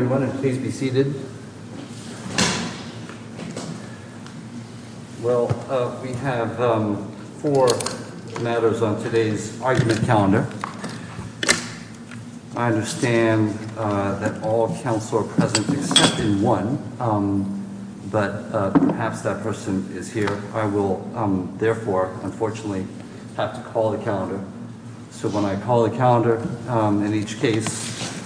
and please be seated. Well, we have four matters on today's argument calendar. I understand that all counsel are present except in one, but perhaps that person is here. I will, therefore, unfortunately have to call the calendar. So when I call the calendar, in each case,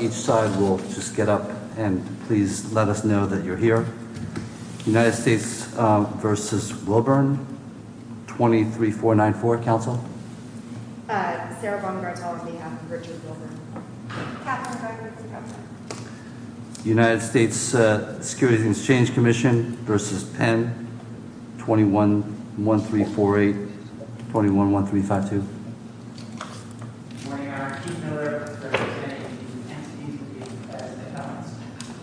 each side will just get up and please let us know that you're here. United States v. Wilbern, 23494, counsel. Sarah Von Gretel, on behalf of Richard Wilbern. Kat, on behalf of Richard Wilbern. United States Securities and Exchange Commission v. Penn, 211348, 211352. Good morning, I'm Keith Miller, on behalf of Richard Wilbern.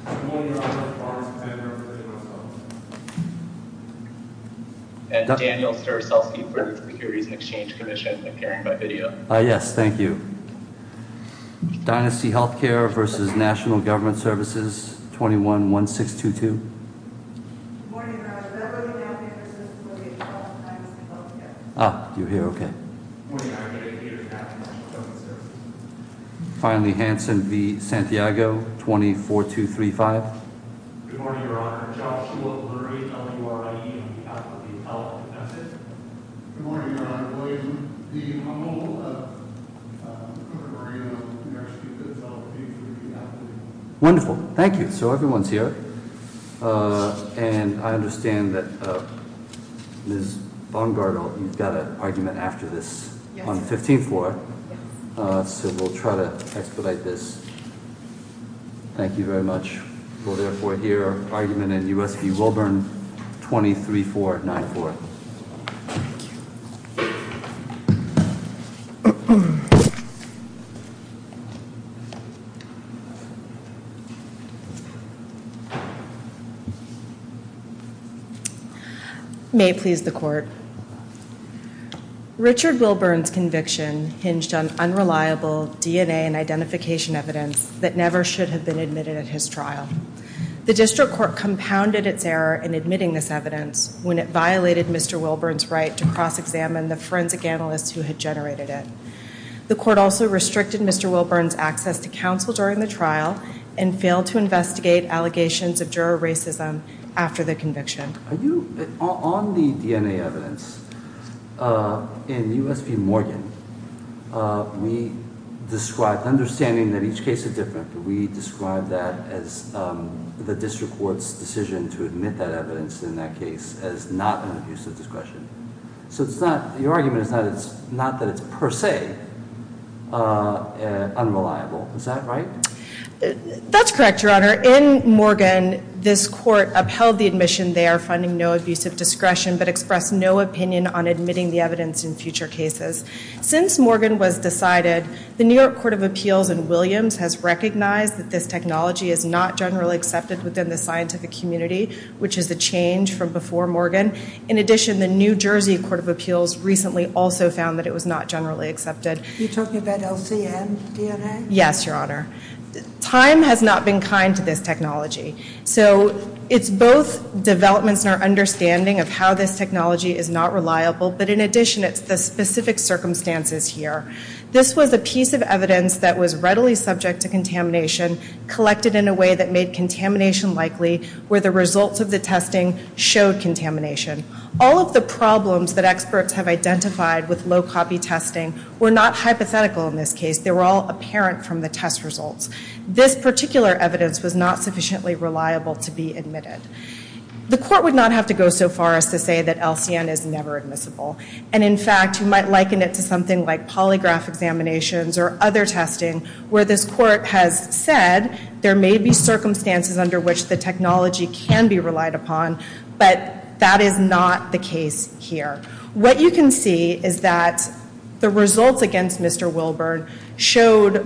Good morning, I'm Mark Barnes, on behalf of Richard Wilbern. And Daniel Sturzowski, for the Securities and Exchange Commission, appearing by video. Yes, thank you. Dynasty Healthcare v. National Health. Finally, Hanson v. Santiago, 24235. Good morning, Your Honor. Joshua Lurie, L-U-R-I-E, on behalf of the Health Commission. Good morning, Your Honor. William D. Humboldt, on behalf of the Court of Appeals. Wonderful, thank you. So everyone's here. And I understand that Ms. Von Gretel, you've got an argument after this. Yes. On the 15th floor. So we'll try to expedite this. Thank you very much. We'll therefore hear argument in U.S. v. Wilbern, 23494. May it please the Court. Richard Wilbern's conviction hinged on unreliable DNA and The district court compounded its error in admitting this evidence when it violated Mr. Wilbern's right to cross-examine the forensic analysts who had generated it. The court also restricted Mr. Wilbern's access to counsel during the trial and failed to investigate allegations of juror racism after the conviction. Are you, on the DNA evidence, in U.S. v. Morgan, we described, understanding that each case is different, we described that as the district court's decision to admit that evidence in that case as not an abuse of discretion. So it's not, your argument is not that it's per se unreliable. Is that right? That's correct, Your Honor. In Morgan, this court upheld the admission they are finding no abuse of discretion but expressed no opinion on admitting the evidence in future cases. Since Morgan was decided, the New York Court of Appeals in Williams has recognized that this technology is not generally accepted within the scientific community, which is a change from before Morgan. In addition, the New Jersey Court of Appeals recently also found that it was not generally accepted. Are you talking about LCM DNA? Yes, Your Honor. Time has not been kind to this technology. So it's both developments in our understanding of how this technology is not reliable, but in addition, it's the specific circumstances here. This was a piece of evidence that was readily subject to contamination, collected in a way that made contamination likely, where the results of the testing showed contamination. All of the problems that experts have identified with low-copy testing were not hypothetical in this case. They were all apparent from the test results. This particular evidence was not sufficiently reliable to be admitted. The court would not have to go so far as to say that LCM is never admissible. And in fact, you might liken it to something like polygraph examinations or other testing where this court has said there may be circumstances under which the technology can be relied upon, but that is not the case here. What you can see is that the results against Mr. Wilburn showed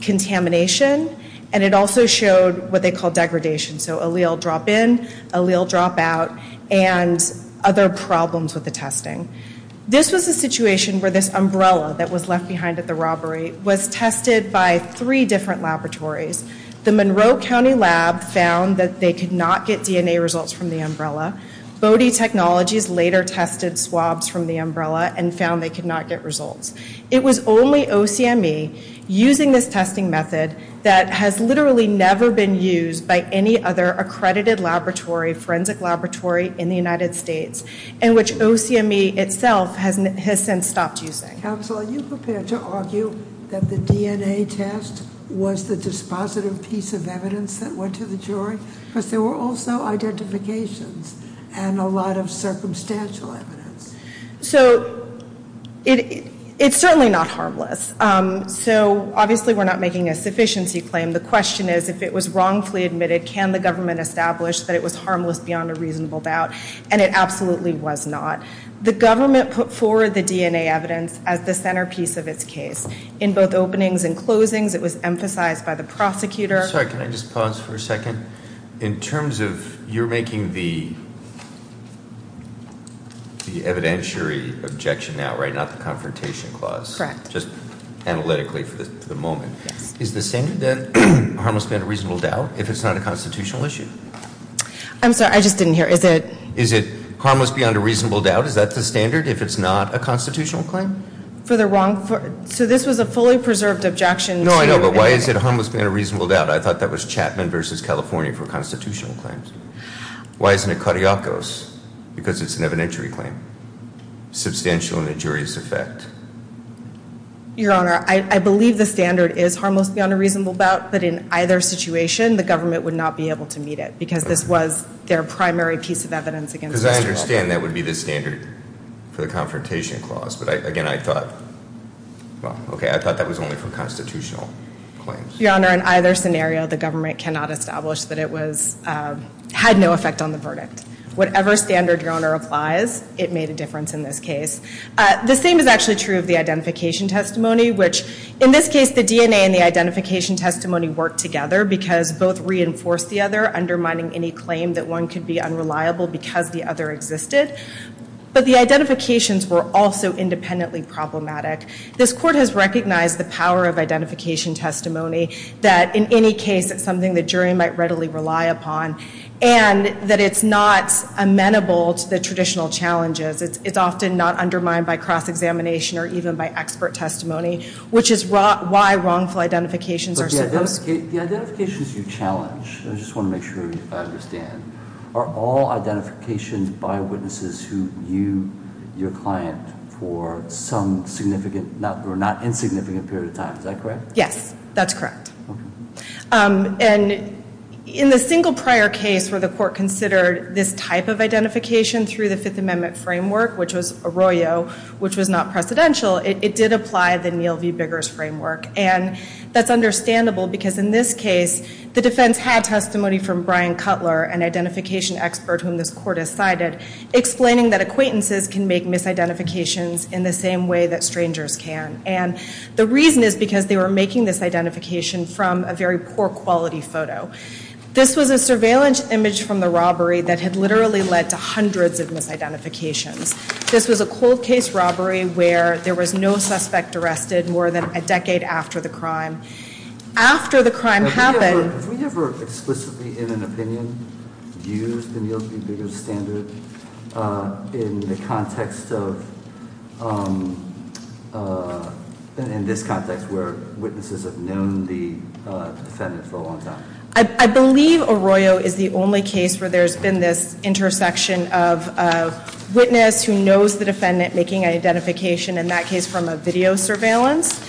contamination and it also showed what they call degradation. So allele drop-in, allele drop-out, and other problems with the testing. This was a situation where this umbrella that was left behind at the robbery was tested by three different laboratories. The Monroe County lab found that they could not get DNA results from the umbrella. Bode Technologies later tested swabs from the umbrella and found they could not get results. It was only OCME using this testing method that has literally never been used by any other accredited laboratory, forensic laboratory in the United States, and which OCME itself has since stopped using. Counsel, are you prepared to argue that the DNA test was the dispositive piece of evidence that went to the jury? Because there were also identifications and a lot of circumstantial evidence. So it's certainly not harmless. So obviously we're not making a sufficiency claim. The question is if it was wrongfully admitted, can the government establish that it was harmless beyond a reasonable doubt? And it absolutely was not. The government put forward the DNA evidence as the centerpiece of its case. In both openings and closings, it was emphasized by the prosecutor. Sorry, can I just pause for a second? In terms of you're making the evidentiary objection now, right? Not the confrontation clause. Correct. Just analytically for the moment. Yes. Is the standard then harmless beyond a reasonable doubt if it's not a constitutional issue? I'm sorry, I just didn't hear. Is it- Is it harmless beyond a reasonable doubt? Is that the standard if it's not a constitutional claim? For the wrong, so this was a fully preserved objection to- I thought that was Chapman versus California for constitutional claims. Why isn't it Cariocos? Because it's an evidentiary claim. Substantial and injurious effect. Your Honor, I believe the standard is harmless beyond a reasonable doubt, but in either situation, the government would not be able to meet it because this was their primary piece of evidence against Mr. Cariocos. Because I understand that would be the standard for the confrontation clause. But again, I thought, well, okay, I thought that was only for constitutional claims. Your Honor, in either scenario, the government cannot establish that it had no effect on the verdict. Whatever standard, Your Honor, applies, it made a difference in this case. The same is actually true of the identification testimony, which in this case, the DNA and the identification testimony worked together because both reinforced the other, undermining any claim that one could be unreliable because the other existed. But the identifications were also independently problematic. This Court has recognized the power of identification testimony, that in any case, it's something the jury might readily rely upon, and that it's not amenable to the traditional challenges. It's often not undermined by cross-examination or even by expert testimony, which is why wrongful identifications are supposed- The identifications you challenge, I just want to make sure I understand, are all identifications by witnesses who knew your client for some significant or not insignificant period of time. Is that correct? Yes, that's correct. And in the single prior case where the Court considered this type of identification through the Fifth Amendment framework, which was Arroyo, which was not precedential, it did apply the Neal v. Biggers framework. And that's understandable because in this case, the defense had testimony from Brian Cutler, an identification expert whom this Court has cited, explaining that acquaintances can make misidentifications in the same way that strangers can. And the reason is because they were making this identification from a very poor quality photo. This was a surveillance image from the robbery that had literally led to hundreds of misidentifications. This was a cold case robbery where there was no suspect arrested more than a decade after the crime. After the crime happened- Have we ever explicitly in an opinion used the Neal v. Biggers standard in the context of, in this context where witnesses have known the defendant for a long time? I believe Arroyo is the only case where there's been this intersection of a witness who knows the defendant making identification, in that case from a video surveillance,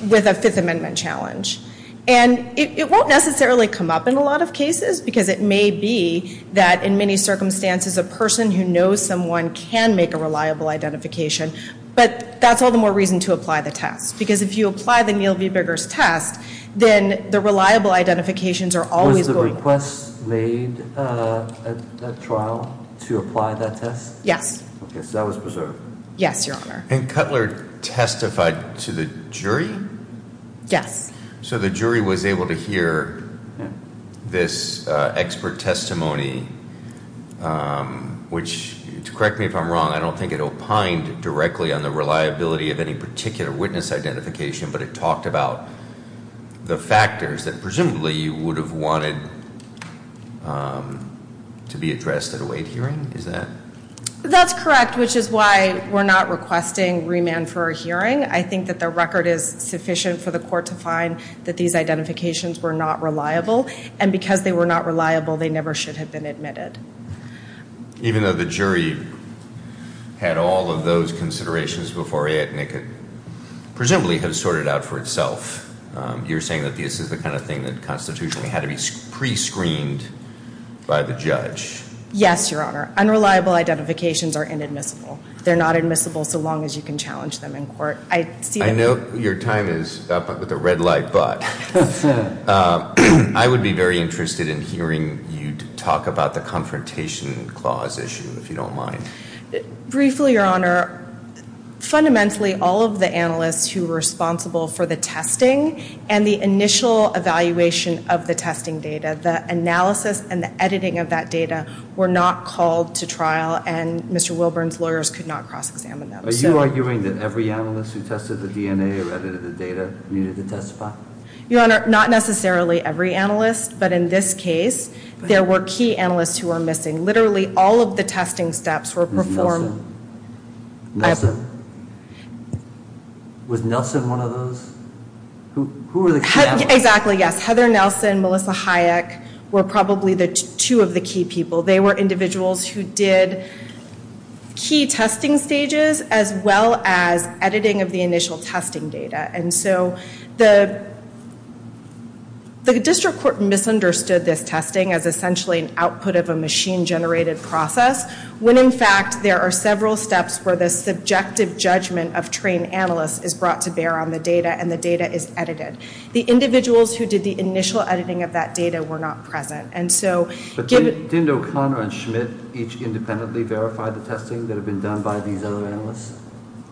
with a Fifth Amendment challenge. And it won't necessarily come up in a lot of cases because it may be that in many circumstances a person who knows someone can make a reliable identification. But that's all the more reason to apply the test, because if you apply the Neal v. Biggers test, then the reliable identifications are always- Was the request made at that trial to apply that test? Yes. Okay, so that was preserved. Yes, Your Honor. And Cutler testified to the jury? Yes. So the jury was able to hear this expert testimony, which, correct me if I'm wrong, I don't think it opined directly on the reliability of any particular witness identification, but it talked about the factors that presumably you would have wanted to be addressed at a weight hearing? Is that- That's correct, which is why we're not requesting remand for a hearing. I think that the record is sufficient for the court to find that these identifications were not reliable, and because they were not reliable, they never should have been admitted. Even though the jury had all of those considerations before it, and it could presumably have sorted out for itself, you're saying that this is the kind of thing that constitutionally had to be pre-screened by the judge? Yes, Your Honor. Unreliable identifications are inadmissible. They're not admissible so long as you can challenge them in court. I see that- I know your time is up with a red light, but I would be very interested in hearing you talk about the confrontation clause issue, if you don't mind. Briefly, Your Honor, fundamentally all of the analysts who were responsible for the testing and the initial evaluation of the testing data, the analysis and the editing of that data were not called to trial, and Mr. Wilburn's lawyers could not cross-examine them. Are you arguing that every analyst who tested the DNA or edited the data needed to testify? Your Honor, not necessarily every analyst, but in this case, there were key analysts who were missing. Literally all of the testing steps were performed- Was Nelson one of those? Who were the key analysts? Exactly, yes. Heather Nelson, Melissa Hayek were probably two of the key people. They were individuals who did key testing stages as well as editing of the initial testing data. The district court misunderstood this testing as essentially an output of a machine-generated process when, in fact, there are several steps where the subjective judgment of trained analysts is brought to bear on the data and the data is edited. The individuals who did the initial editing of that data were not present. Didn't O'Connor and Schmidt each independently verify the testing that had been done by these other analysts?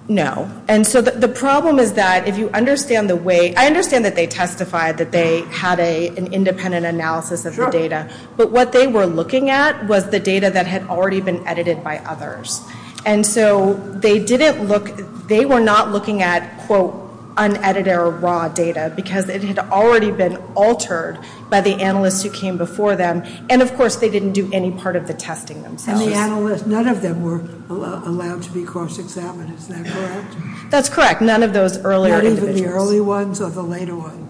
No. The problem is that if you understand the way- I understand that they testified that they had an independent analysis of the data, but what they were looking at was the data that had already been edited by others. They were not looking at, quote, unedited or raw data because it had already been altered by the analysts who came before them, and, of course, they didn't do any part of the testing themselves. None of them were allowed to be cross-examined. Is that correct? That's correct. None of those earlier individuals. Not even the early ones or the later ones?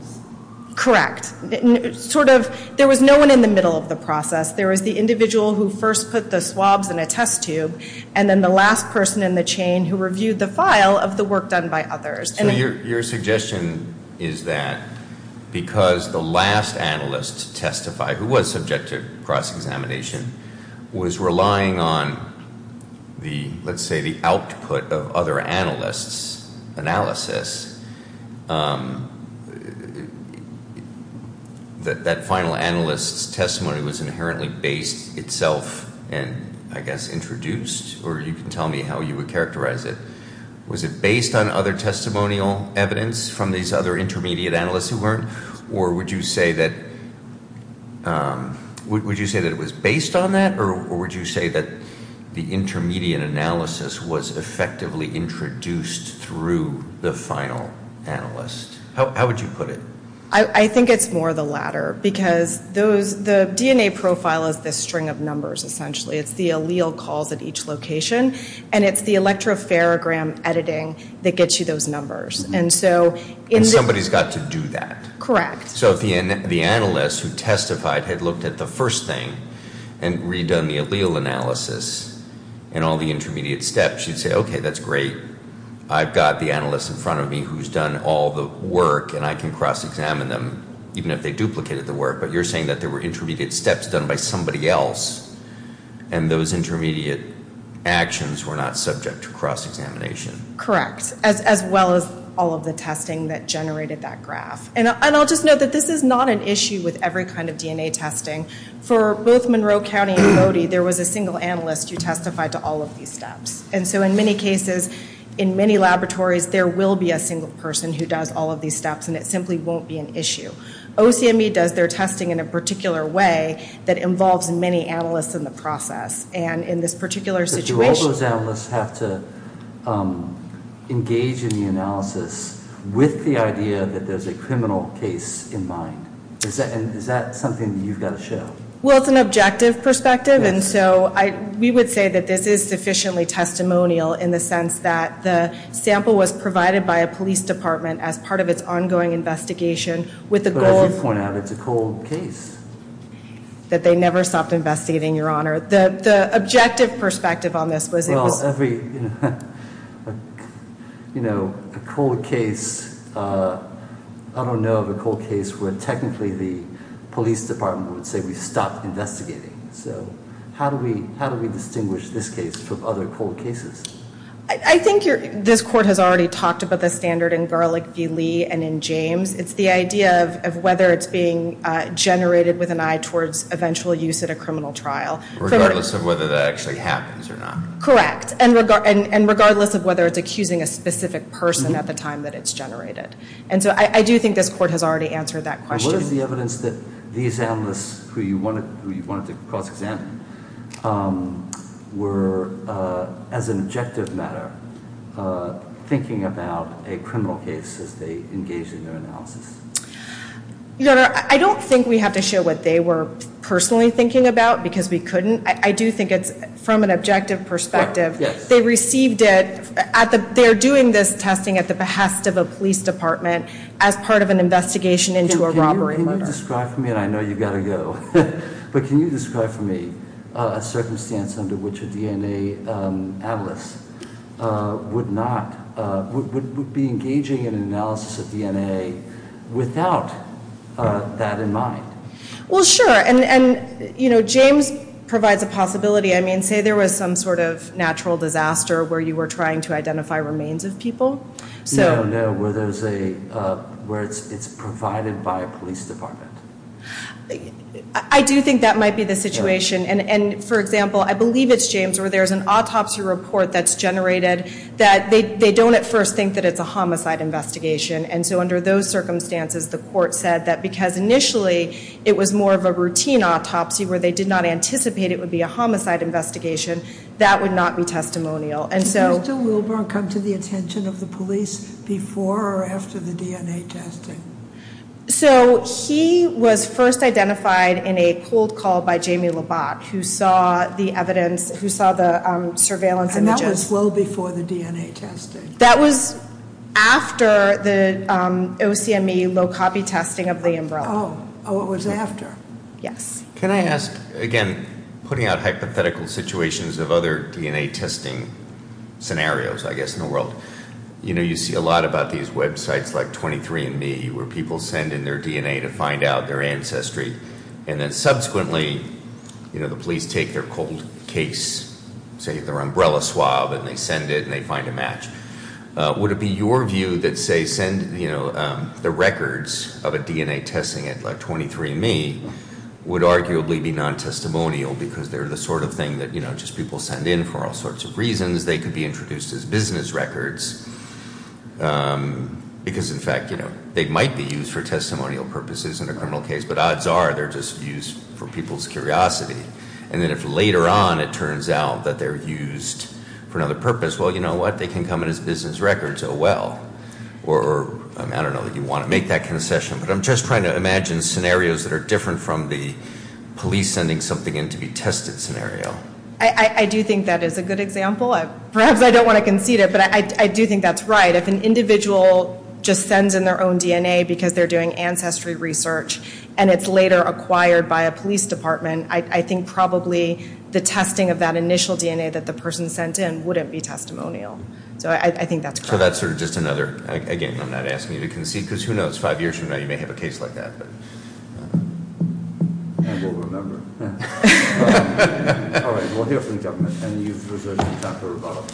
Correct. There was no one in the middle of the process. There was the individual who first put the swabs in a test tube and then the last person in the chain who reviewed the file of the work done by others. So your suggestion is that because the last analyst to testify, who was subject to cross-examination, was relying on the, let's say, the output of other analysts' analysis, that that final analyst's testimony was inherently based itself and, I guess, introduced? Or you can tell me how you would characterize it. Was it based on other testimonial evidence from these other intermediate analysts who weren't? Or would you say that it was based on that, or would you say that the intermediate analysis was effectively introduced through the final analyst? How would you put it? I think it's more the latter because the DNA profile is this string of numbers, essentially. It's the allele calls at each location, and it's the electropharogram editing that gets you those numbers. And somebody's got to do that. Correct. So if the analyst who testified had looked at the first thing and redone the allele analysis and all the intermediate steps, you'd say, okay, that's great. I've got the analyst in front of me who's done all the work, and I can cross-examine them, even if they duplicated the work. But you're saying that there were intermediate steps done by somebody else, and those intermediate actions were not subject to cross-examination. Correct, as well as all of the testing that generated that graph. And I'll just note that this is not an issue with every kind of DNA testing. For both Monroe County and Bodie, there was a single analyst who testified to all of these steps. And so in many cases, in many laboratories, there will be a single person who does all of these steps, and it simply won't be an issue. OCMB does their testing in a particular way that involves many analysts in the process. And in this particular situation- But do all those analysts have to engage in the analysis with the idea that there's a criminal case in mind? Is that something that you've got to show? Well, it's an objective perspective. And so we would say that this is sufficiently testimonial in the sense that the sample was provided by a police department as part of its ongoing investigation with the goal of- But as you point out, it's a cold case. That they never stopped investigating, Your Honor. The objective perspective on this was it was- You know, a cold case, I don't know of a cold case where technically the police department would say we stopped investigating. So how do we distinguish this case from other cold cases? I think this Court has already talked about the standard in Garlick v. Lee and in James. It's the idea of whether it's being generated with an eye towards eventual use at a criminal trial. Regardless of whether that actually happens or not. Correct. And regardless of whether it's accusing a specific person at the time that it's generated. And so I do think this Court has already answered that question. And what is the evidence that these analysts who you wanted to cross-examine were, as an objective matter, thinking about a criminal case as they engaged in their analysis? Your Honor, I don't think we have to show what they were personally thinking about because we couldn't. I do think it's from an objective perspective. They received it, they're doing this testing at the behest of a police department as part of an investigation into a robbery murder. Can you describe for me, and I know you've got to go, but can you describe for me a circumstance under which a DNA analyst would be engaging in an analysis of DNA without that in mind? Well, sure. And James provides a possibility. I mean, say there was some sort of natural disaster where you were trying to identify remains of people. No, no, where it's provided by a police department. I do think that might be the situation. And for example, I believe it's James, where there's an autopsy report that's generated that they don't at first think that it's a homicide investigation. And so under those circumstances, the court said that because initially it was more of a routine autopsy where they did not anticipate it would be a homicide investigation, that would not be testimonial. Did Mr. Wilburn come to the attention of the police before or after the DNA testing? So he was first identified in a cold call by Jamie Labatt, who saw the evidence, who saw the surveillance images. And that was well before the DNA testing. That was after the OCME low copy testing of the umbrella. Oh, it was after. Yes. Can I ask, again, putting out hypothetical situations of other DNA testing scenarios, I guess, in the world. You know, you see a lot about these websites like 23andMe where people send in their DNA to find out their ancestry. And then subsequently, you know, the police take their cold case, say their umbrella swab, and they send it, and they find a match. Would it be your view that, say, send, you know, the records of a DNA testing at like 23andMe would arguably be non-testimonial because they're the sort of thing that, you know, just people send in for all sorts of reasons. They could be introduced as business records. Because, in fact, you know, they might be used for testimonial purposes in a criminal case, but odds are they're just used for people's curiosity. And then if later on it turns out that they're used for another purpose, well, you know what, they can come in as business records. Oh, well. Or, I don't know that you want to make that concession, but I'm just trying to imagine scenarios that are different from the police sending something in to be tested scenario. I do think that is a good example. Perhaps I don't want to concede it, but I do think that's right. If an individual just sends in their own DNA because they're doing ancestry research, and it's later acquired by a police department, I think probably the testing of that initial DNA that the person sent in wouldn't be testimonial. So I think that's correct. So that's sort of just another, again, I'm not asking you to concede, because who knows, five years from now you may have a case like that. And we'll remember. All right. We'll hear from the gentleman. And you've reserved your time for rebuttal.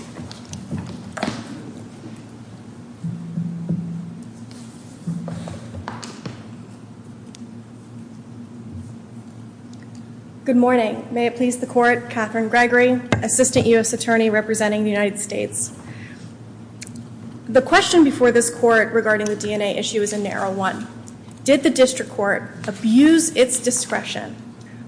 Good morning. May it please the Court. Katherine Gregory, Assistant U.S. Attorney representing the United States. The question before this Court regarding the DNA issue is a narrow one. Did the district court abuse its discretion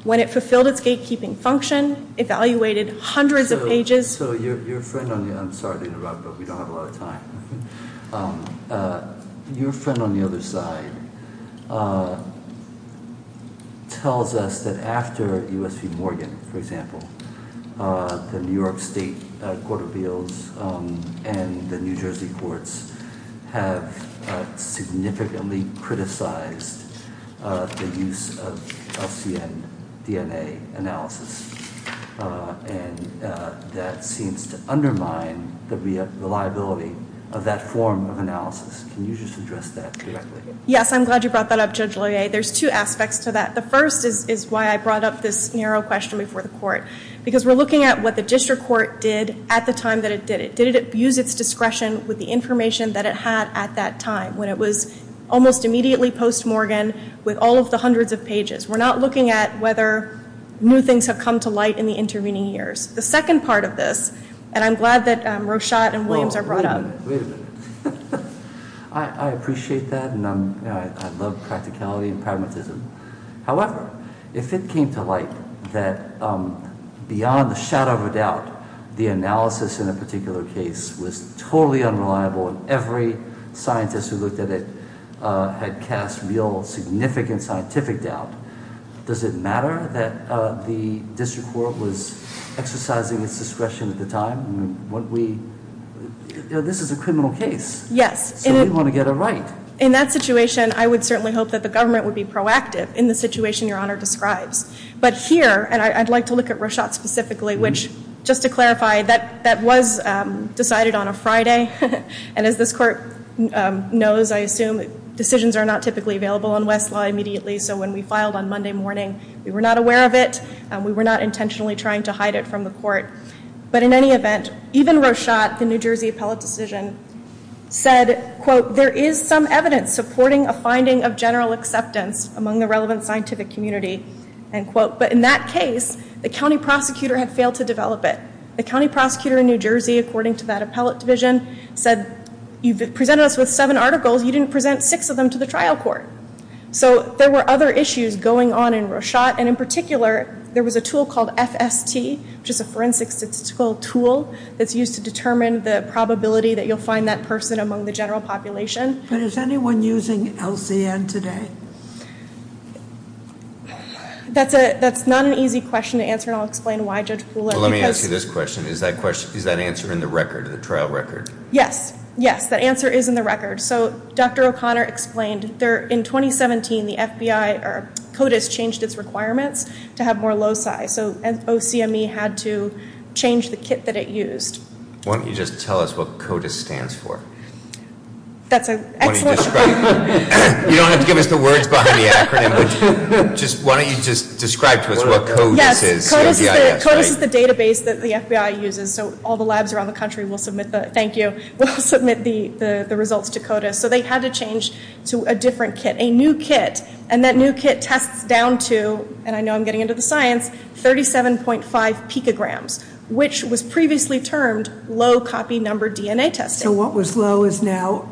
when it fulfilled its gatekeeping function, evaluated hundreds of pages? So your friend on the—I'm sorry to interrupt, but we don't have a lot of time. Your friend on the other side tells us that after U.S. v. Morgan, for example, the New York State Court of Appeals and the New Jersey courts have significantly criticized the use of LCN DNA analysis. And that seems to undermine the reliability of that form of analysis. Can you just address that directly? Yes. I'm glad you brought that up, Judge Loyer. There's two aspects to that. The first is why I brought up this narrow question before the Court, because we're looking at what the district court did at the time that it did it. Did it abuse its discretion with the information that it had at that time, when it was almost immediately post-Morgan with all of the hundreds of pages? We're not looking at whether new things have come to light in the intervening years. The second part of this—and I'm glad that Roshot and Williams are brought up. Wait a minute. I appreciate that, and I love practicality and pragmatism. However, if it came to light that beyond a shadow of a doubt the analysis in a particular case was totally unreliable and every scientist who looked at it had cast real significant scientific doubt, does it matter that the district court was exercising its discretion at the time? This is a criminal case. Yes. So we want to get it right. In that situation, I would certainly hope that the government would be proactive in the situation Your Honor describes. But here—and I'd like to look at Roshot specifically, which, just to clarify, that was decided on a Friday. And as this Court knows, I assume, decisions are not typically available in Westlaw immediately. So when we filed on Monday morning, we were not aware of it. We were not intentionally trying to hide it from the Court. But in any event, even Roshot, the New Jersey appellate decision, said, quote, There is some evidence supporting a finding of general acceptance among the relevant scientific community, end quote. But in that case, the county prosecutor had failed to develop it. The county prosecutor in New Jersey, according to that appellate division, said, You've presented us with seven articles. You didn't present six of them to the trial court. So there were other issues going on in Roshot. And in particular, there was a tool called FST, which is a forensic statistical tool that's used to determine the probability that you'll find that person among the general population. But is anyone using LCN today? That's not an easy question to answer, and I'll explain why, Judge Fuller. Let me ask you this question. Is that answer in the record, the trial record? Yes. Yes, that answer is in the record. So Dr. O'Connor explained, in 2017, the FBI or CODIS changed its requirements to have more loci. So OCME had to change the kit that it used. Why don't you just tell us what CODIS stands for? That's an excellent question. You don't have to give us the words behind the acronym. Why don't you just describe to us what CODIS is? Yes, CODIS is the database that the FBI uses. So they had to change to a different kit, a new kit, and that new kit tests down to, and I know I'm getting into the science, 37.5 picograms, which was previously termed low copy number DNA testing. So what was low is now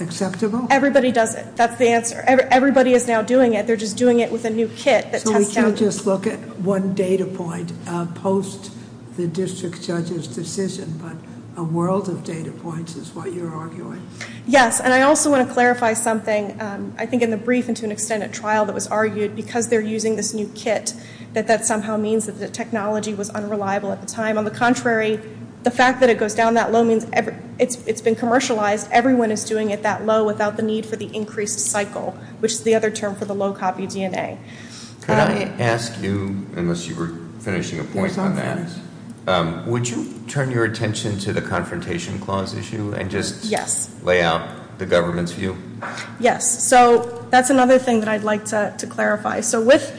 acceptable? Everybody does it. That's the answer. Everybody is now doing it. They're just doing it with a new kit that tests down. So we can't just look at one data point post the district judge's decision, but a world of data points is what you're arguing? Yes, and I also want to clarify something. I think in the brief and to an extent at trial it was argued because they're using this new kit that that somehow means that the technology was unreliable at the time. On the contrary, the fact that it goes down that low means it's been commercialized. Everyone is doing it that low without the need for the increased cycle, which is the other term for the low copy DNA. Can I ask you, unless you were finishing a point on that, would you turn your attention to the confrontation clause issue? Yes. And just lay out the government's view? Yes. So that's another thing that I'd like to clarify. So with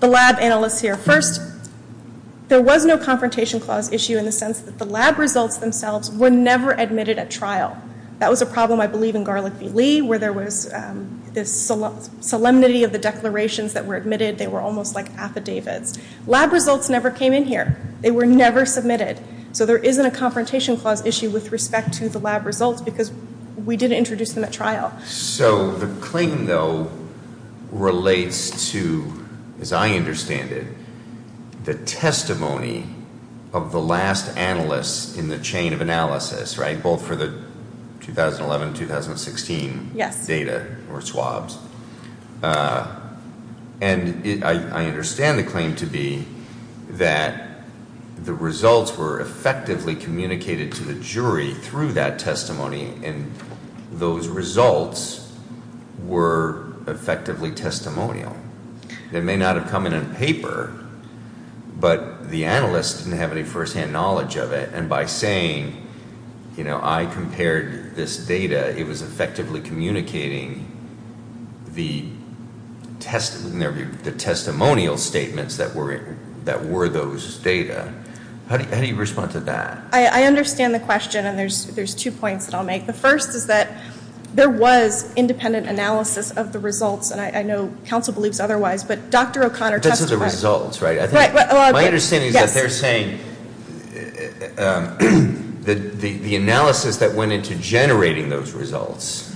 the lab analysts here, first, there was no confrontation clause issue in the sense that the lab results themselves were never admitted at trial. That was a problem, I believe, in Garlick v. Lee where there was this solemnity of the declarations that were admitted. They were almost like affidavits. Lab results never came in here. They were never submitted. So there isn't a confrontation clause issue with respect to the lab results because we didn't introduce them at trial. So the claim, though, relates to, as I understand it, the testimony of the last analysts in the chain of analysis, right, and I understand the claim to be that the results were effectively communicated to the jury through that testimony, and those results were effectively testimonial. They may not have come in on paper, but the analyst didn't have any firsthand knowledge of it, and by saying, you know, I compared this data, it was effectively communicating the testimonial statements that were those data. How do you respond to that? I understand the question, and there's two points that I'll make. The first is that there was independent analysis of the results, and I know counsel believes otherwise, but Dr. O'Connor testified. But those are the results, right? Right. My understanding is that they're saying that the analysis that went into generating those results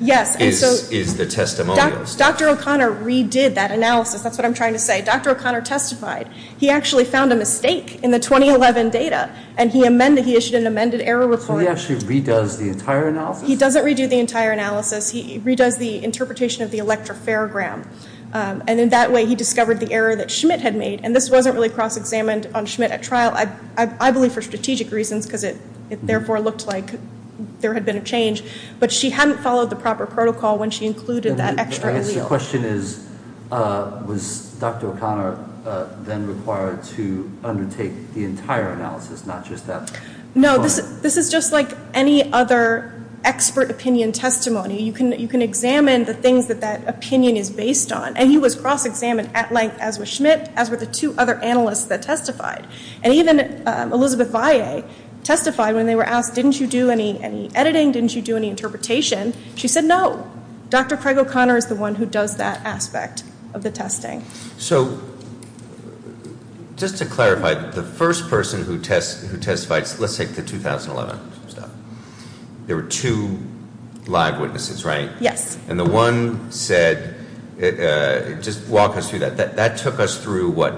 is the testimonials. Yes, and so Dr. O'Connor redid that analysis. That's what I'm trying to say. Dr. O'Connor testified. He actually found a mistake in the 2011 data, and he amended. He issued an amended error report. So he actually redoes the entire analysis? He doesn't redo the entire analysis. He redoes the interpretation of the electro-farogram, and in that way he discovered the error that Schmidt had made, and this wasn't really cross-examined on Schmidt at trial, I believe, for strategic reasons because it therefore looked like there had been a change. But she hadn't followed the proper protocol when she included that extra allele. The question is, was Dr. O'Connor then required to undertake the entire analysis, not just that one? No, this is just like any other expert opinion testimony. You can examine the things that that opinion is based on, and he was cross-examined at length as was Schmidt, as were the two other analysts that testified. And even Elizabeth Valle testified when they were asked, didn't you do any editing? Didn't you do any interpretation? She said no. Dr. Craig O'Connor is the one who does that aspect of the testing. So just to clarify, the first person who testified, let's take the 2011 stuff. There were two live witnesses, right? Yes. And the one said, just walk us through that. That took us through, what,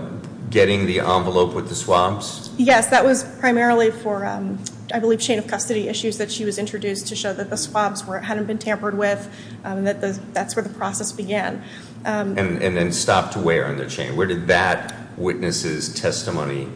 getting the envelope with the swabs? Yes. That was primarily for, I believe, chain of custody issues that she was introduced to show that the swabs hadn't been tampered with, that that's where the process began. And then stopped to wear on the chain. Where did that witness's testimony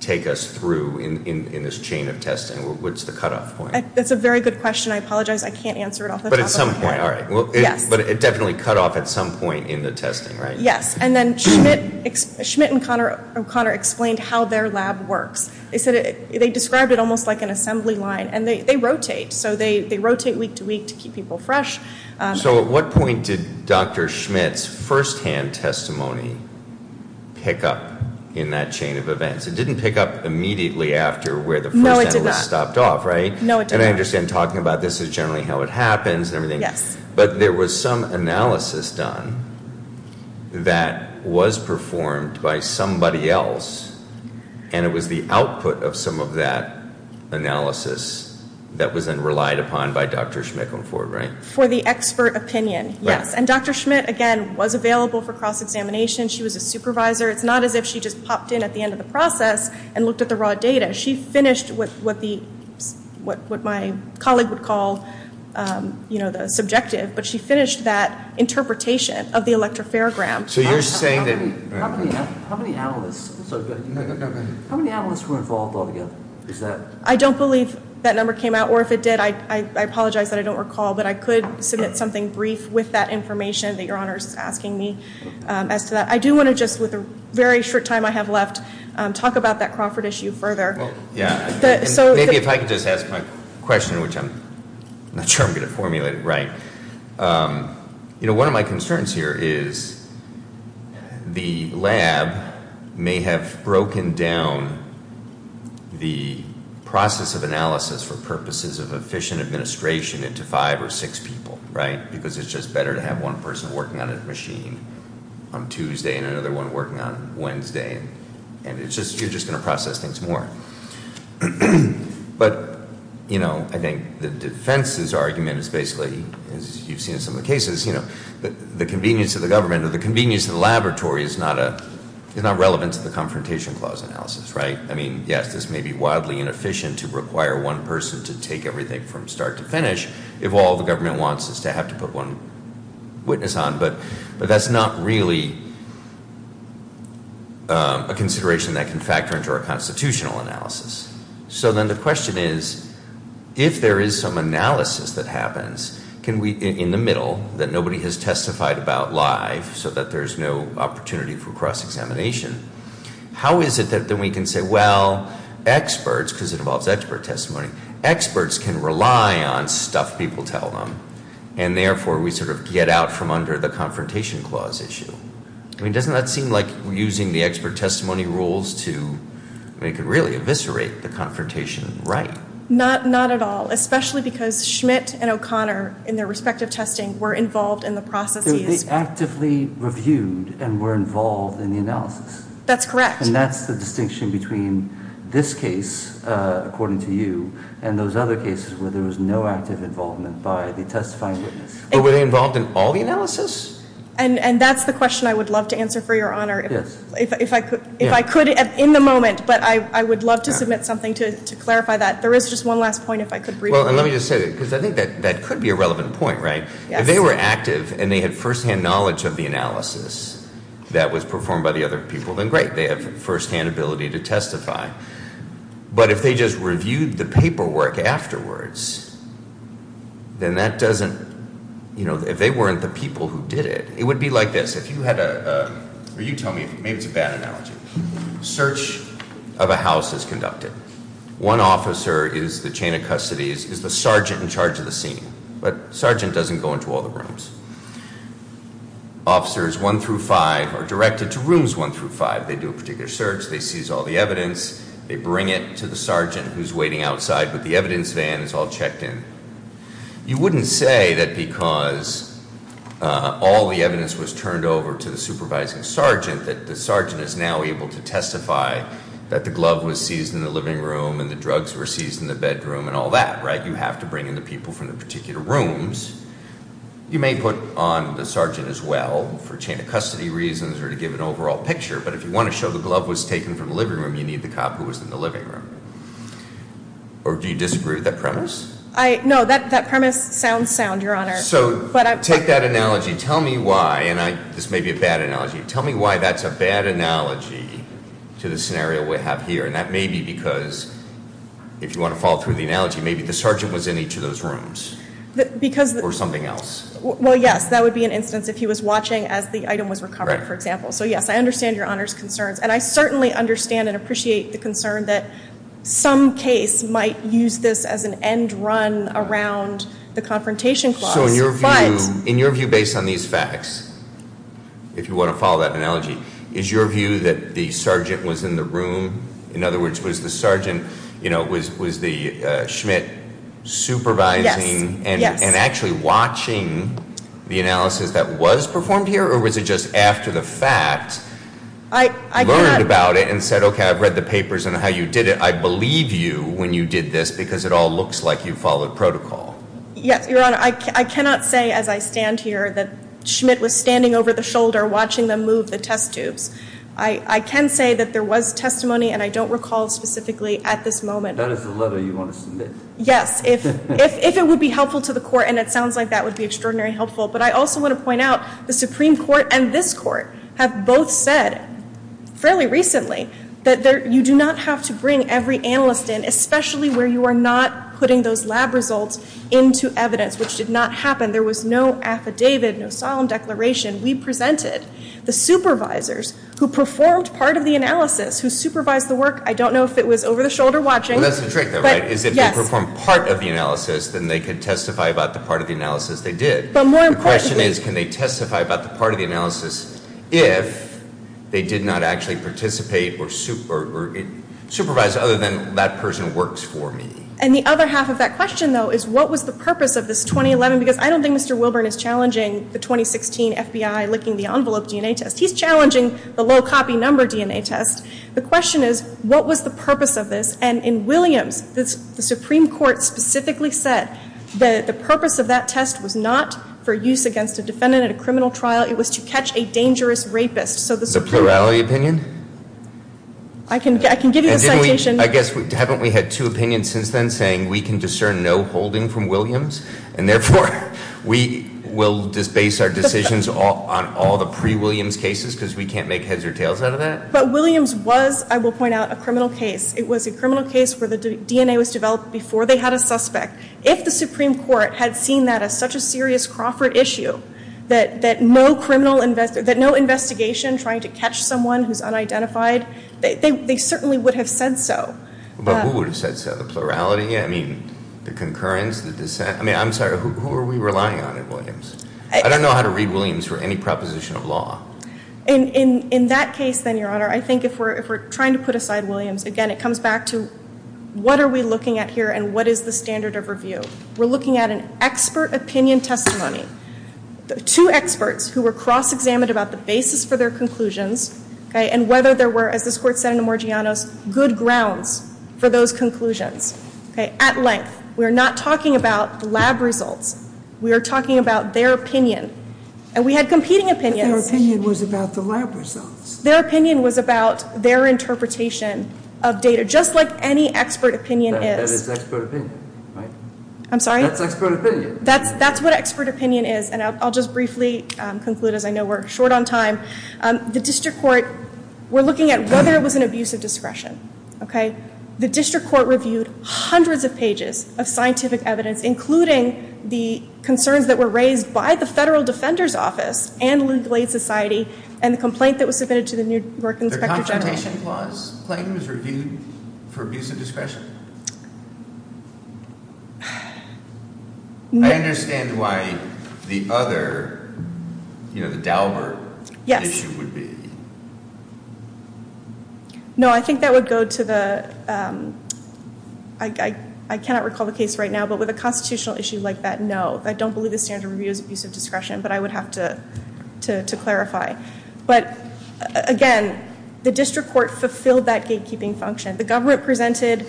take us through in this chain of testing? What's the cutoff point? That's a very good question. I apologize, I can't answer it off the top of my head. But at some point, all right. Yes. But it definitely cut off at some point in the testing, right? Yes. And then Schmidt and O'Connor explained how their lab works. They described it almost like an assembly line. And they rotate. So they rotate week to week to keep people fresh. So at what point did Dr. Schmidt's firsthand testimony pick up in that chain of events? It didn't pick up immediately after where the first analyst stopped off, right? No, it did not. And I understand talking about this is generally how it happens and everything. Yes. But there was some analysis done that was performed by somebody else. And it was the output of some of that analysis that was then relied upon by Dr. Schmidt going forward, right? For the expert opinion, yes. And Dr. Schmidt, again, was available for cross-examination. She was a supervisor. It's not as if she just popped in at the end of the process and looked at the raw data. She finished what my colleague would call the subjective. But she finished that interpretation of the electropharogram. So you're saying that how many analysts were involved altogether? I don't believe that number came out. Or if it did, I apologize that I don't recall. But I could submit something brief with that information that Your Honor is asking me as to that. I do want to just, with the very short time I have left, talk about that Crawford issue further. Yeah. Maybe if I could just ask my question, which I'm not sure I'm going to formulate it right. You know, one of my concerns here is the lab may have broken down the process of analysis for purposes of efficient administration into five or six people, right? Because it's just better to have one person working on a machine on Tuesday and another one working on Wednesday. And you're just going to process things more. But, you know, I think the defense's argument is basically, as you've seen in some of the cases, you know, the convenience of the government or the convenience of the laboratory is not relevant to the Confrontation Clause analysis, right? I mean, yes, this may be wildly inefficient to require one person to take everything from start to finish. If all the government wants is to have to put one witness on. But that's not really a consideration that can factor into our constitutional analysis. So then the question is, if there is some analysis that happens in the middle that nobody has testified about live so that there's no opportunity for cross-examination, how is it that we can say, well, experts, because it involves expert testimony, experts can rely on stuff people tell them. And therefore, we sort of get out from under the Confrontation Clause issue. I mean, doesn't that seem like using the expert testimony rules to make it really eviscerate the confrontation, right? Not at all, especially because Schmidt and O'Connor, in their respective testing, were involved in the process. They actively reviewed and were involved in the analysis. That's correct. And that's the distinction between this case, according to you, and those other cases where there was no active involvement by the testifying witness. But were they involved in all the analysis? And that's the question I would love to answer for your honor. Yes. If I could in the moment, but I would love to submit something to clarify that. There is just one last point, if I could briefly. Well, and let me just say that, because I think that could be a relevant point, right? Yes. If they were active and they had firsthand knowledge of the analysis that was performed by the other people, then great. They have firsthand ability to testify. But if they just reviewed the paperwork afterwards, then that doesn't, you know, if they weren't the people who did it, it would be like this. If you had a, or you tell me, maybe it's a bad analogy. Search of a house is conducted. One officer is the chain of custody, is the sergeant in charge of the scene. But sergeant doesn't go into all the rooms. Officers 1 through 5 are directed to rooms 1 through 5. They do a particular search. They seize all the evidence. They bring it to the sergeant who's waiting outside, but the evidence van is all checked in. You wouldn't say that because all the evidence was turned over to the supervising sergeant, that the sergeant is now able to testify that the glove was seized in the living room and the drugs were seized in the bedroom and all that, right? Now you have to bring in the people from the particular rooms. You may put on the sergeant as well for chain of custody reasons or to give an overall picture. But if you want to show the glove was taken from the living room, you need the cop who was in the living room. Or do you disagree with that premise? No, that premise sounds sound, Your Honor. So take that analogy. Tell me why, and this may be a bad analogy. Tell me why that's a bad analogy to the scenario we have here. And that may be because, if you want to follow through the analogy, maybe the sergeant was in each of those rooms or something else. Well, yes, that would be an instance if he was watching as the item was recovered, for example. So, yes, I understand Your Honor's concerns. And I certainly understand and appreciate the concern that some case might use this as an end run around the confrontation clause. Also, in your view, based on these facts, if you want to follow that analogy, is your view that the sergeant was in the room? In other words, was the sergeant, you know, was the Schmidt supervising and actually watching the analysis that was performed here? Or was it just after the fact learned about it and said, okay, I've read the papers on how you did it. I believe you when you did this because it all looks like you followed protocol. Yes, Your Honor. I cannot say as I stand here that Schmidt was standing over the shoulder watching them move the test tubes. I can say that there was testimony, and I don't recall specifically at this moment. That is the letter you want to submit? Yes. If it would be helpful to the court, and it sounds like that would be extraordinarily helpful. But I also want to point out the Supreme Court and this court have both said fairly recently that you do not have to bring every analyst in, especially where you are not putting those lab results into evidence, which did not happen. There was no affidavit, no asylum declaration. We presented the supervisors who performed part of the analysis, who supervised the work. I don't know if it was over the shoulder watching. Well, that's the trick, though, right? Yes. Is if they performed part of the analysis, then they could testify about the part of the analysis they did. But more importantly The question is can they testify about the part of the analysis if they did not actually participate or supervise other than that person works for me. And the other half of that question, though, is what was the purpose of this 2011? Because I don't think Mr. Wilburn is challenging the 2016 FBI licking the envelope DNA test. He's challenging the low copy number DNA test. The question is what was the purpose of this? And in Williams, the Supreme Court specifically said that the purpose of that test was not for use against a defendant at a criminal trial. It was to catch a dangerous rapist. The plurality opinion? I can give you the citation. I guess haven't we had two opinions since then saying we can discern no holding from Williams? And, therefore, we will base our decisions on all the pre-Williams cases because we can't make heads or tails out of that? But Williams was, I will point out, a criminal case. It was a criminal case where the DNA was developed before they had a suspect. If the Supreme Court had seen that as such a serious Crawford issue, that no investigation trying to catch someone who's unidentified, they certainly would have said so. But who would have said so? The plurality? I mean, the concurrence? The dissent? I mean, I'm sorry, who are we relying on in Williams? I don't know how to read Williams for any proposition of law. In that case, then, Your Honor, I think if we're trying to put aside Williams, again, it comes back to what are we looking at here and what is the standard of review? We're looking at an expert opinion testimony. Two experts who were cross-examined about the basis for their conclusions and whether there were, as this Court said in Amorgianos, good grounds for those conclusions. At length. We are not talking about lab results. We are talking about their opinion. And we had competing opinions. But their opinion was about the lab results. Their opinion was about their interpretation of data, just like any expert opinion is. That is expert opinion, right? I'm sorry? That's expert opinion. That's what expert opinion is, and I'll just briefly conclude, as I know we're short on time. The district court reviewed hundreds of pages of scientific evidence, including the concerns that were raised by the Federal Defender's Office and the Legal Aid Society and the complaint that was submitted to the New York Inspector General. The confrontation clause claim was reviewed for abuse of discretion? I understand why the other, you know, the Daubert issue would be. Yes. No, I think that would go to the, I cannot recall the case right now, but with a constitutional issue like that, no. I don't believe the standard review is abuse of discretion, but I would have to clarify. But, again, the district court fulfilled that gatekeeping function. The government presented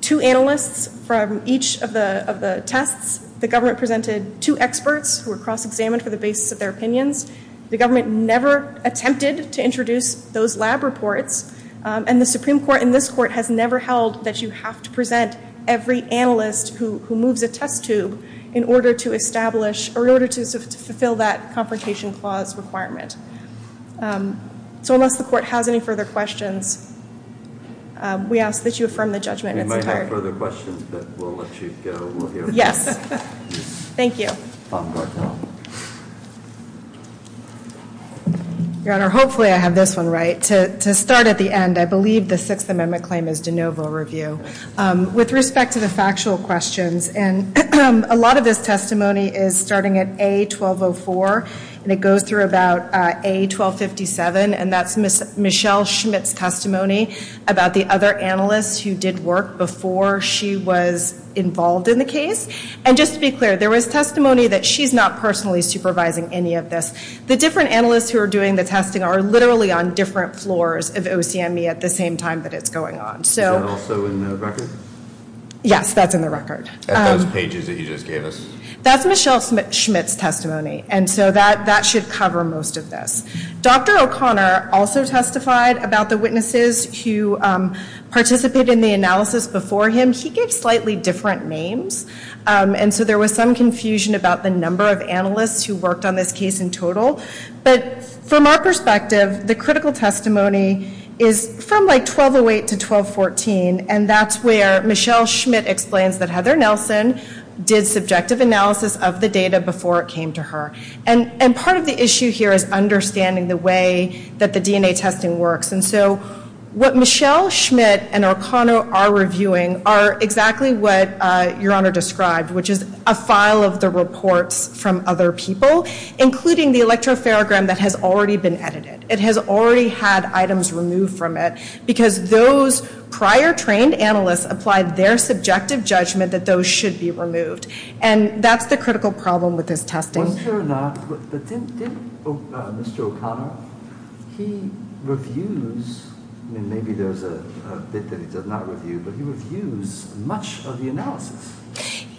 two analysts from each of the tests. The government presented two experts who were cross-examined for the basis of their opinions. The government never attempted to introduce those lab reports, and the Supreme Court in this court has never held that you have to present every analyst who moves a test tube in order to establish, or in order to fulfill that confrontation clause requirement. So unless the court has any further questions, we ask that you affirm the judgment. We might have further questions, but we'll let you go. Yes. Thank you. Counsel. Your Honor, hopefully I have this one right. To start at the end, I believe the Sixth Amendment claim is de novo review. With respect to the factual questions, and a lot of this testimony is starting at A1204, and it goes through about A1257, and that's Michelle Schmidt's testimony about the other analysts who did work before she was involved in the case. And just to be clear, there was testimony that she's not personally supervising any of this. The different analysts who are doing the testing are literally on different floors of OCME at the same time that it's going on. Is that also in the record? Yes, that's in the record. At those pages that you just gave us? That's Michelle Schmidt's testimony, and so that should cover most of this. Dr. O'Connor also testified about the witnesses who participated in the analysis before him. He gave slightly different names, and so there was some confusion about the number of analysts who worked on this case in total. But from our perspective, the critical testimony is from, like, 1208 to 1214, and that's where Michelle Schmidt explains that Heather Nelson did subjective analysis of the data before it came to her. And part of the issue here is understanding the way that the DNA testing works. And so what Michelle Schmidt and O'Connor are reviewing are exactly what Your Honor described, which is a file of the reports from other people, including the electropharogram that has already been edited. It has already had items removed from it because those prior trained analysts applied their subjective judgment that those should be removed. And that's the critical problem with this testing. I'm sure not, but didn't Mr. O'Connor, he reviews, and maybe there's a bit that he does not review, but he reviews much of the analysis.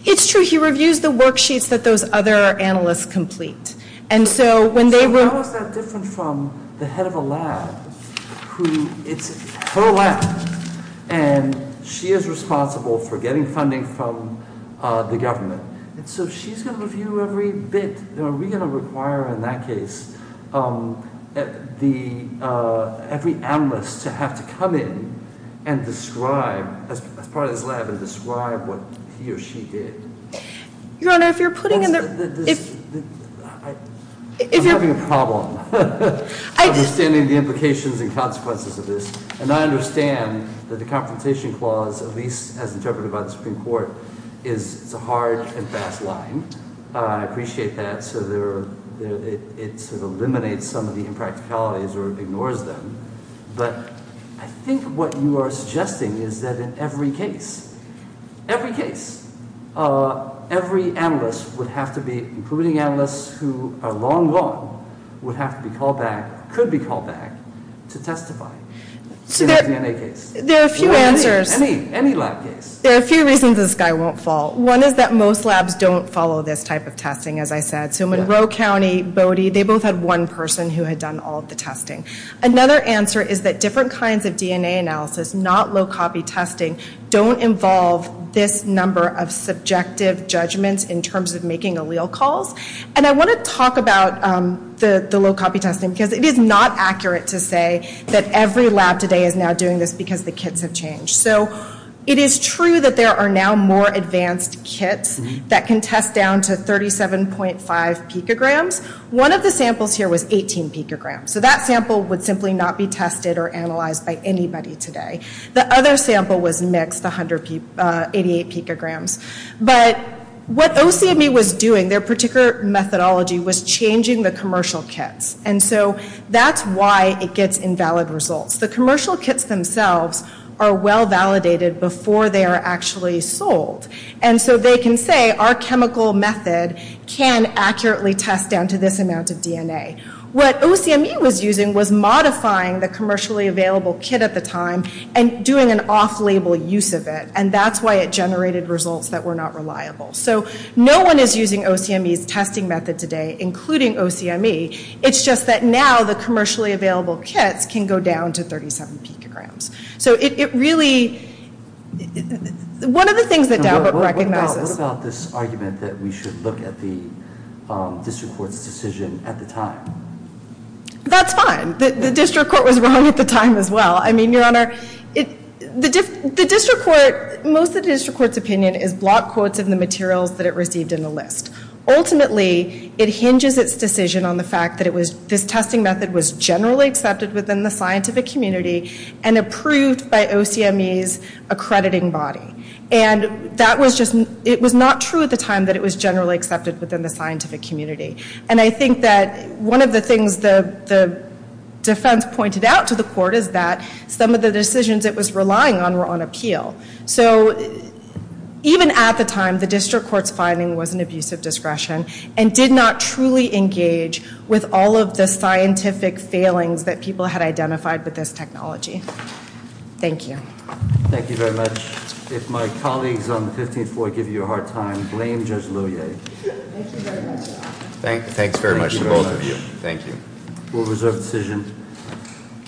It's true. He reviews the worksheets that those other analysts complete. And so when they were- So how is that different from the head of a lab who, it's her lab, and she is responsible for getting funding from the government. And so she's going to review every bit. Are we going to require in that case every analyst to have to come in and describe, as part of this lab, and describe what he or she did? Your Honor, if you're putting in the- I'm having a problem understanding the implications and consequences of this. And I understand that the Confrontation Clause, at least as interpreted by the Supreme Court, is a hard and fast line. I appreciate that. So it eliminates some of the impracticalities or ignores them. But I think what you are suggesting is that in every case, every case, every analyst would have to be, including analysts who are long gone, would have to be called back, could be called back to testify. In a DNA case. There are a few answers. Any lab case. There are a few reasons this guy won't fall. One is that most labs don't follow this type of testing, as I said. So Monroe County, Bodie, they both had one person who had done all of the testing. Another answer is that different kinds of DNA analysis, not low-copy testing, don't involve this number of subjective judgments in terms of making allele calls. And I want to talk about the low-copy testing because it is not accurate to say that every lab today is now doing this because the kits have changed. So it is true that there are now more advanced kits that can test down to 37.5 picograms. One of the samples here was 18 picograms. So that sample would simply not be tested or analyzed by anybody today. The other sample was mixed, 188 picograms. But what OCME was doing, their particular methodology, was changing the commercial kits. And so that's why it gets invalid results. The commercial kits themselves are well validated before they are actually sold. And so they can say, our chemical method can accurately test down to this amount of DNA. What OCME was using was modifying the commercially available kit at the time and doing an off-label use of it. And that's why it generated results that were not reliable. So no one is using OCME's testing method today, including OCME. It's just that now the commercially available kits can go down to 37 picograms. So it really – one of the things that Dowbert recognizes – What about this argument that we should look at the district court's decision at the time? That's fine. The district court was wrong at the time as well. I mean, Your Honor, the district court – most of the district court's opinion is block quotes of the materials that it received in the list. Ultimately, it hinges its decision on the fact that this testing method was generally accepted within the scientific community and approved by OCME's accrediting body. And that was just – it was not true at the time that it was generally accepted within the scientific community. And I think that one of the things the defense pointed out to the court is that some of the decisions it was relying on were on appeal. So even at the time, the district court's finding was an abuse of discretion and did not truly engage with all of the scientific failings that people had identified with this technology. Thank you. Thank you very much. If my colleagues on the 15th floor give you a hard time, blame Judge Louyer. Thank you very much. Thanks very much to both of you. Thank you. We'll reserve the decision.